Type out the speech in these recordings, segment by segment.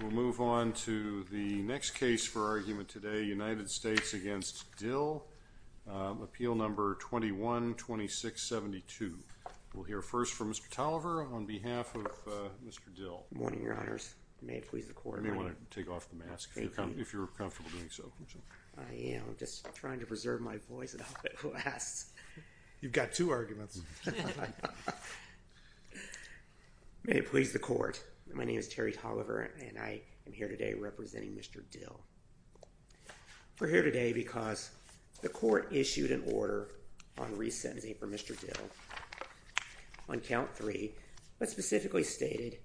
We'll move on to the next case for argument today, United States v. Dill, Appeal No. 21-2672. We'll hear first from Mr. Tolliver on behalf of Mr. Dill. Good morning, Your Honors. May it please the Court. You may want to take off the mask if you're comfortable doing so. I am just trying to preserve my voice at all costs. You've got two arguments. May it please the Court. My name is Terry Tolliver, and I am here today representing Mr. Dill. We're here today because the Court issued an order on resentencing for Mr. Dill on count three, but specifically stated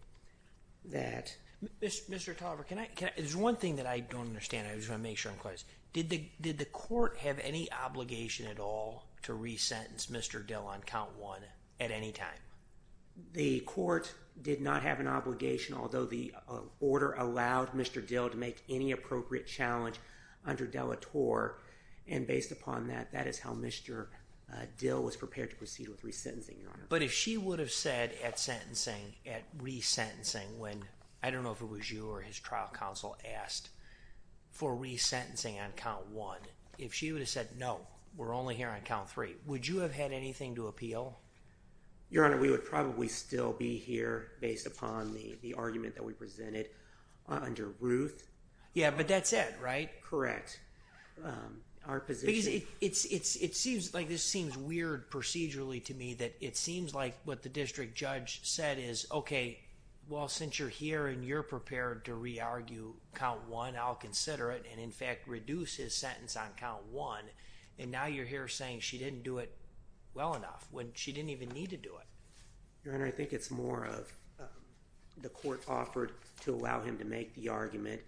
that... Mr. Tolliver, can I... there's one thing that I don't understand. I just want to make sure I'm close. Did the Court have any obligation at all to resentence Mr. Dill on count one at any time? The Court did not have an obligation, although the order allowed Mr. Dill to make any appropriate challenge under Delatour. And based upon that, that is how Mr. Dill was prepared to proceed with resentencing, Your Honor. But if she would have said at sentencing, at resentencing, when I don't know if it was you or his trial counsel asked for resentencing on count one, if she would have said, no, we're only here on count three, would you have had anything to appeal? Your Honor, we would probably still be here based upon the argument that we presented under Ruth. Yeah, but that's it, right? Correct. Because it seems like this seems weird procedurally to me that it seems like what the district judge said is, okay, well, since you're here and you're prepared to re-argue count one, I'll consider it and in fact reduce his sentence on count one. And now you're here saying she didn't do it well enough when she didn't even need to do it. Your Honor, I think it's more of the court offered to allow him to make the argument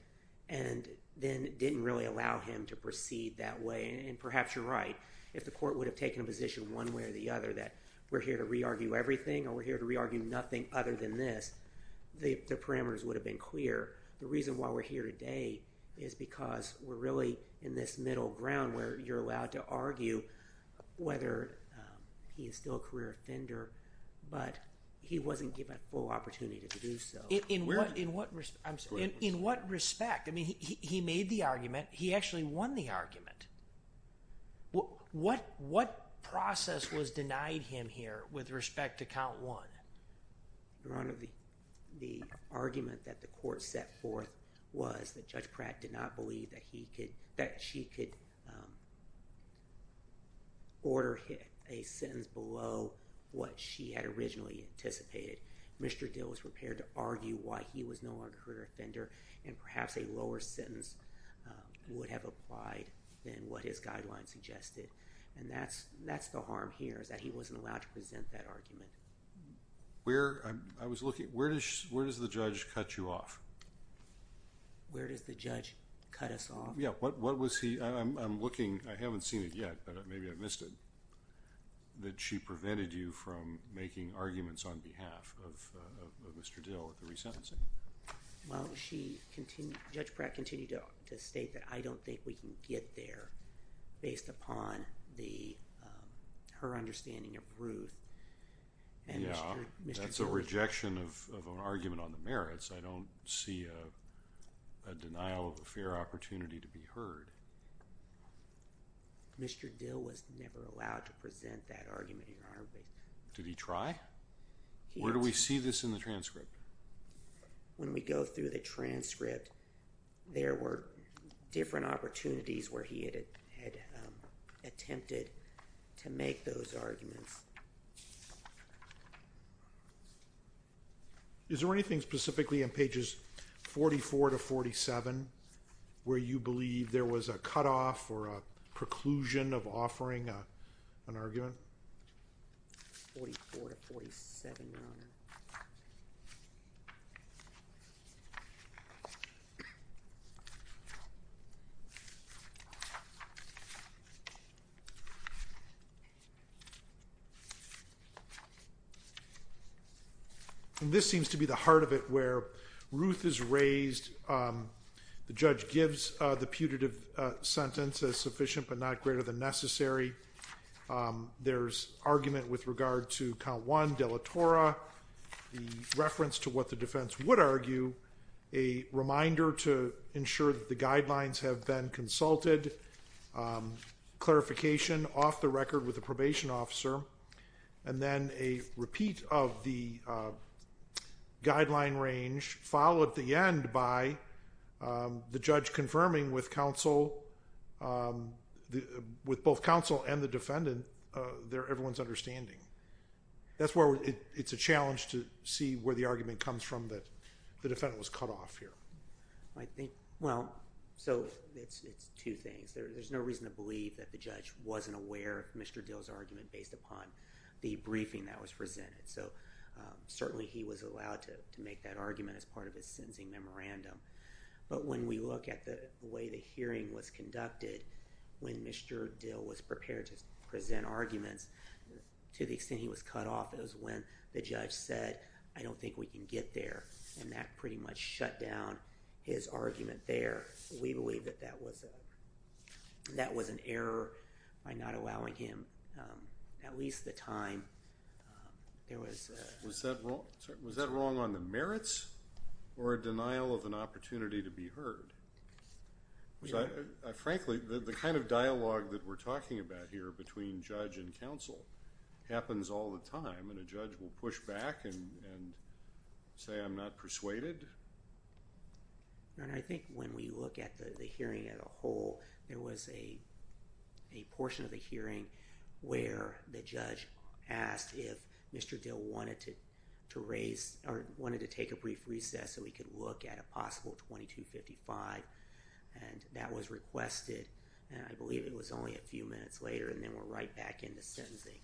and then didn't really allow him to proceed that way. And perhaps you're right. If the court would have taken a position one way or the other that we're here to re-argue everything or we're here to re-argue nothing other than this, the parameters would have been clear. The reason why we're here today is because we're really in this middle ground where you're allowed to argue whether he is still a career offender, but he wasn't given a full opportunity to do so. In what respect? I mean, he made the argument. He actually won the argument. What process was denied him here with respect to count one? Your Honor, the argument that the court set forth was that Judge Pratt did not believe that she could order a sentence below what she had originally anticipated. Mr. Dill was prepared to argue why he was no longer a career offender and perhaps a lower sentence would have applied than what his guidelines suggested. And that's the harm here is that he wasn't allowed to present that argument. Where does the judge cut you off? Where does the judge cut us off? Yeah. I'm looking. I haven't seen it yet, but maybe I missed it, that she prevented you from making arguments on behalf of Mr. Dill at the resentencing. Well, Judge Pratt continued to state that I don't think we can get there based upon her understanding of Ruth. Yeah, that's a rejection of an argument on the merits. I don't see a denial of a fair opportunity to be heard. Mr. Dill was never allowed to present that argument, Your Honor. Did he try? Where do we see this in the transcript? When we go through the transcript, there were different opportunities where he had attempted to make those arguments. Is there anything specifically in pages 44 to 47 where you believe there was a cutoff or a preclusion of offering an argument? 44 to 47, Your Honor. And this seems to be the heart of it where Ruth is raised. The judge gives the putative sentence as sufficient but not greater than necessary. There's argument with regard to count one, deletora, the reference to what the defense would argue, a reminder to ensure that the guidelines have been consulted, clarification off the record with the probation officer, and then a repeat of the guideline range followed at the end by the judge confirming with both counsel and the defendant everyone's understanding. That's where it's a challenge to see where the argument comes from that the defendant was cut off here. Well, so it's two things. There's no reason to believe that the judge wasn't aware of Mr. Dill's argument based upon the briefing that was presented. So certainly he was allowed to make that argument as part of his sentencing memorandum. But when we look at the way the hearing was conducted, when Mr. Dill was prepared to present arguments, to the extent he was cut off, it was when the judge said, I don't think we can get there, and that pretty much shut down his argument there. We believe that that was an error by not allowing him at least the time. Was that wrong on the merits or a denial of an opportunity to be heard? Frankly, the kind of dialogue that we're talking about here between judge and counsel happens all the time, and a judge will push back and say I'm not persuaded? I think when we look at the hearing as a whole, there was a portion of the hearing where the judge asked if Mr. Dill wanted to raise, or wanted to take a brief recess so he could look at a possible 2255. And that was requested, and I believe it was only a few minutes later, and then we're right back into sentencing.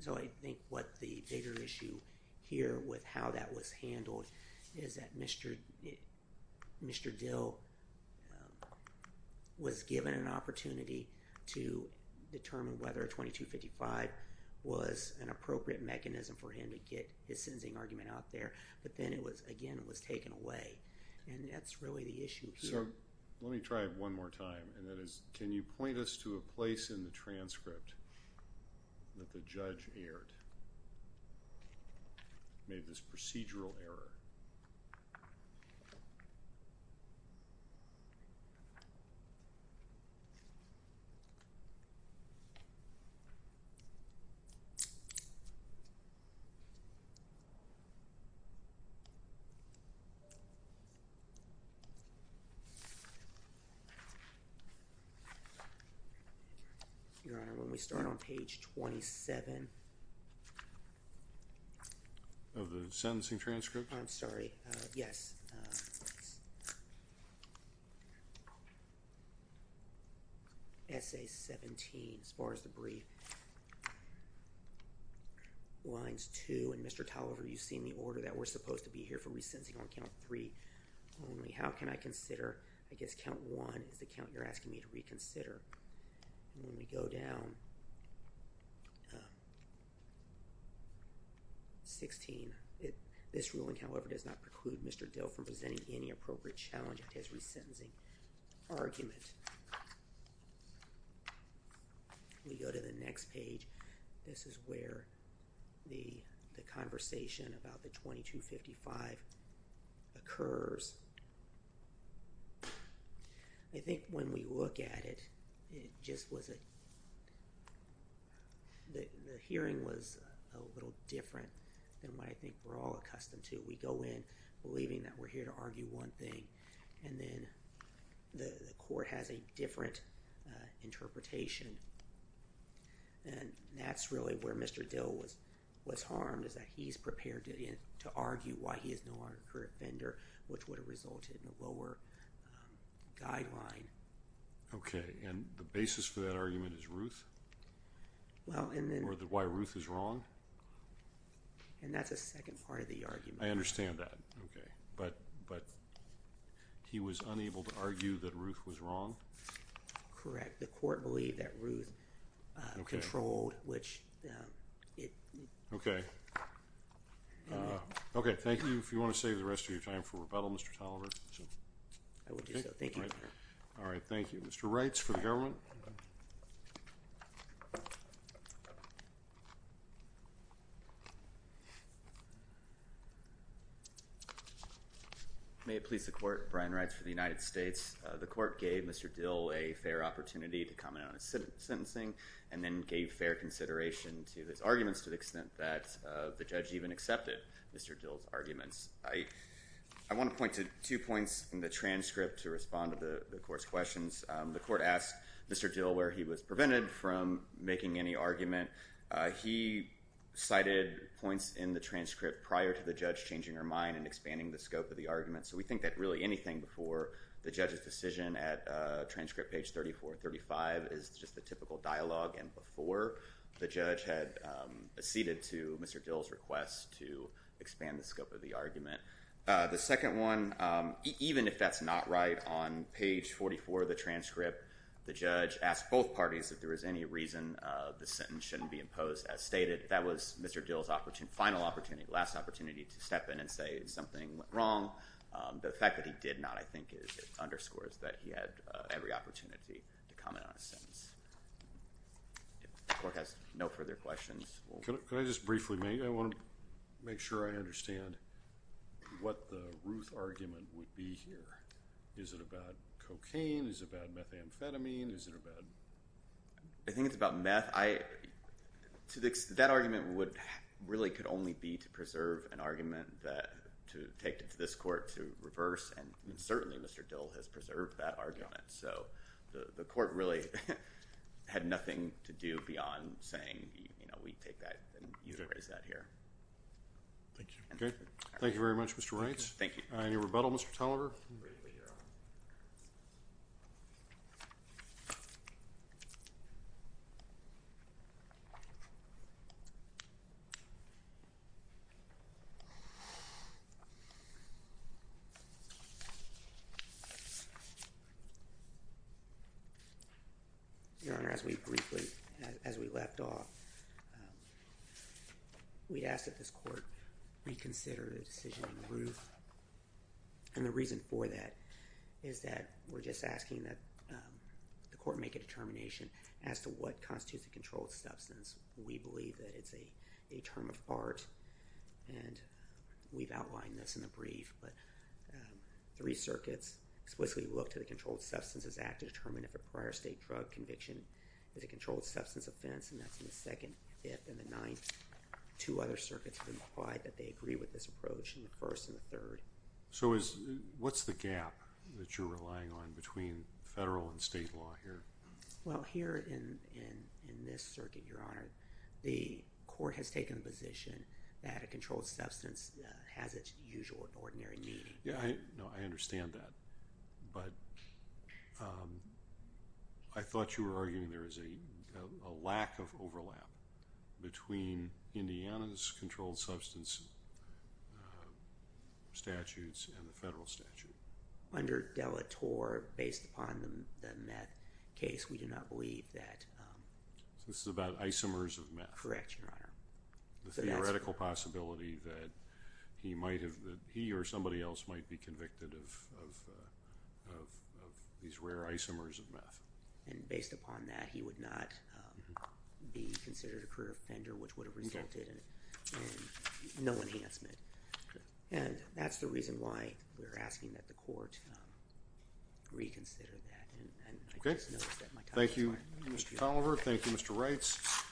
So I think what the bigger issue here with how that was handled is that Mr. Dill was given an opportunity to determine whether 2255 was an appropriate mechanism for him to get his sentencing argument out there, but then it was, again, it was taken away, and that's really the issue here. So let me try it one more time, and that is can you point us to a place in the transcript that the judge erred, made this procedural error? Your Honor, when we start on page 27 of the sentencing transcript. I'm sorry, yes. Essay 17, as far as the brief. Lines 2 and Mr. Tolliver, you've seen the order that we're supposed to be here for re-sentencing on count 3. Only how can I consider, I guess count 1 is the count you're asking me to reconsider. When we go down 16, this ruling, however, does not preclude Mr. Dill from presenting any appropriate challenge to his re-sentencing argument. We go to the next page. This is where the conversation about the 2255 occurs. I think when we look at it, it just was a, the hearing was a little different than what I think we're all accustomed to. We go in believing that we're here to argue one thing, and then the court has a different interpretation, and that's really where Mr. Dill was harmed, is that he's prepared to argue why he is no longer a current offender, which would have resulted in a lower guideline. Okay, and the basis for that argument is Ruth? Well, and then... Or why Ruth is wrong? And that's a second part of the argument. I understand that, okay. But he was unable to argue that Ruth was wrong? Correct. The court believed that Ruth controlled, which it... Okay. Okay, thank you. If you want to save the rest of your time for rebuttal, Mr. Toliver. I will do so. Thank you. All right, thank you. Mr. Reitz for the government. May it please the court, Brian Reitz for the United States. The court gave Mr. Dill a fair opportunity to comment on his sentencing and then gave fair consideration to his arguments to the extent that the judge even accepted Mr. Dill's arguments. I want to point to two points in the transcript to respond to the court's questions. The court asked Mr. Dill where he was prevented from making any argument. He cited points in the transcript prior to the judge changing her mind and expanding the scope of the argument. So we think that really anything before the judge's decision at transcript page 34-35 is just the typical dialogue and before the judge had acceded to Mr. Dill's request to expand the scope of the argument. The second one, even if that's not right, on page 44 of the transcript, the judge asked both parties if there was any reason the sentence shouldn't be imposed as stated. That was Mr. Dill's final opportunity, last opportunity to step in and say something went wrong. The fact that he did not, I think, underscores that he had every opportunity to comment on his sentence. If the court has no further questions. Could I just briefly make, I want to make sure I understand what the Ruth argument would be here. Is it about cocaine? Is it about methamphetamine? Is it about? I think it's about meth. That argument really could only be to preserve an argument to take it to this court to reverse, and certainly Mr. Dill has preserved that argument. So the court really had nothing to do beyond saying, you know, we take that and you erase that here. Thank you. Okay. Thank you very much, Mr. Wright. Thank you. Any rebuttal, Mr. Tolliver? I'm ready, Your Honor. Your Honor, as we briefly, as we left off, we asked that this court reconsider the decision on Ruth and the reason for that is that we're just asking that the court make a determination as to what constitutes a controlled substance. We believe that it's a term of art, and we've outlined this in the brief, but three circuits explicitly look to the Controlled Substances Act to determine if a prior state drug conviction is a controlled substance offense, and that's in the second, fifth, and the ninth. Two other circuits have implied that they agree with this approach in the first and the third. So what's the gap that you're relying on between federal and state law here? Well, here in this circuit, Your Honor, the court has taken the position that a controlled substance has its usual ordinary need. Yeah, I know. I understand that, but I thought you were arguing there is a lack of overlap between Indiana's controlled substance statutes and the federal statute. Under De La Torre, based upon the meth case, we do not believe that. So this is about isomers of meth. Correct, Your Honor. The theoretical possibility that he might have, that he or somebody else might be convicted of these rare isomers of meth. And based upon that, he would not be considered a career offender, which would have resulted in no enhancement. And that's the reason why we're asking that the court reconsider that. Okay. And I just noticed that my time is running out. Thank you, Mr. Tolliver. Thank you, Mr. Reitz.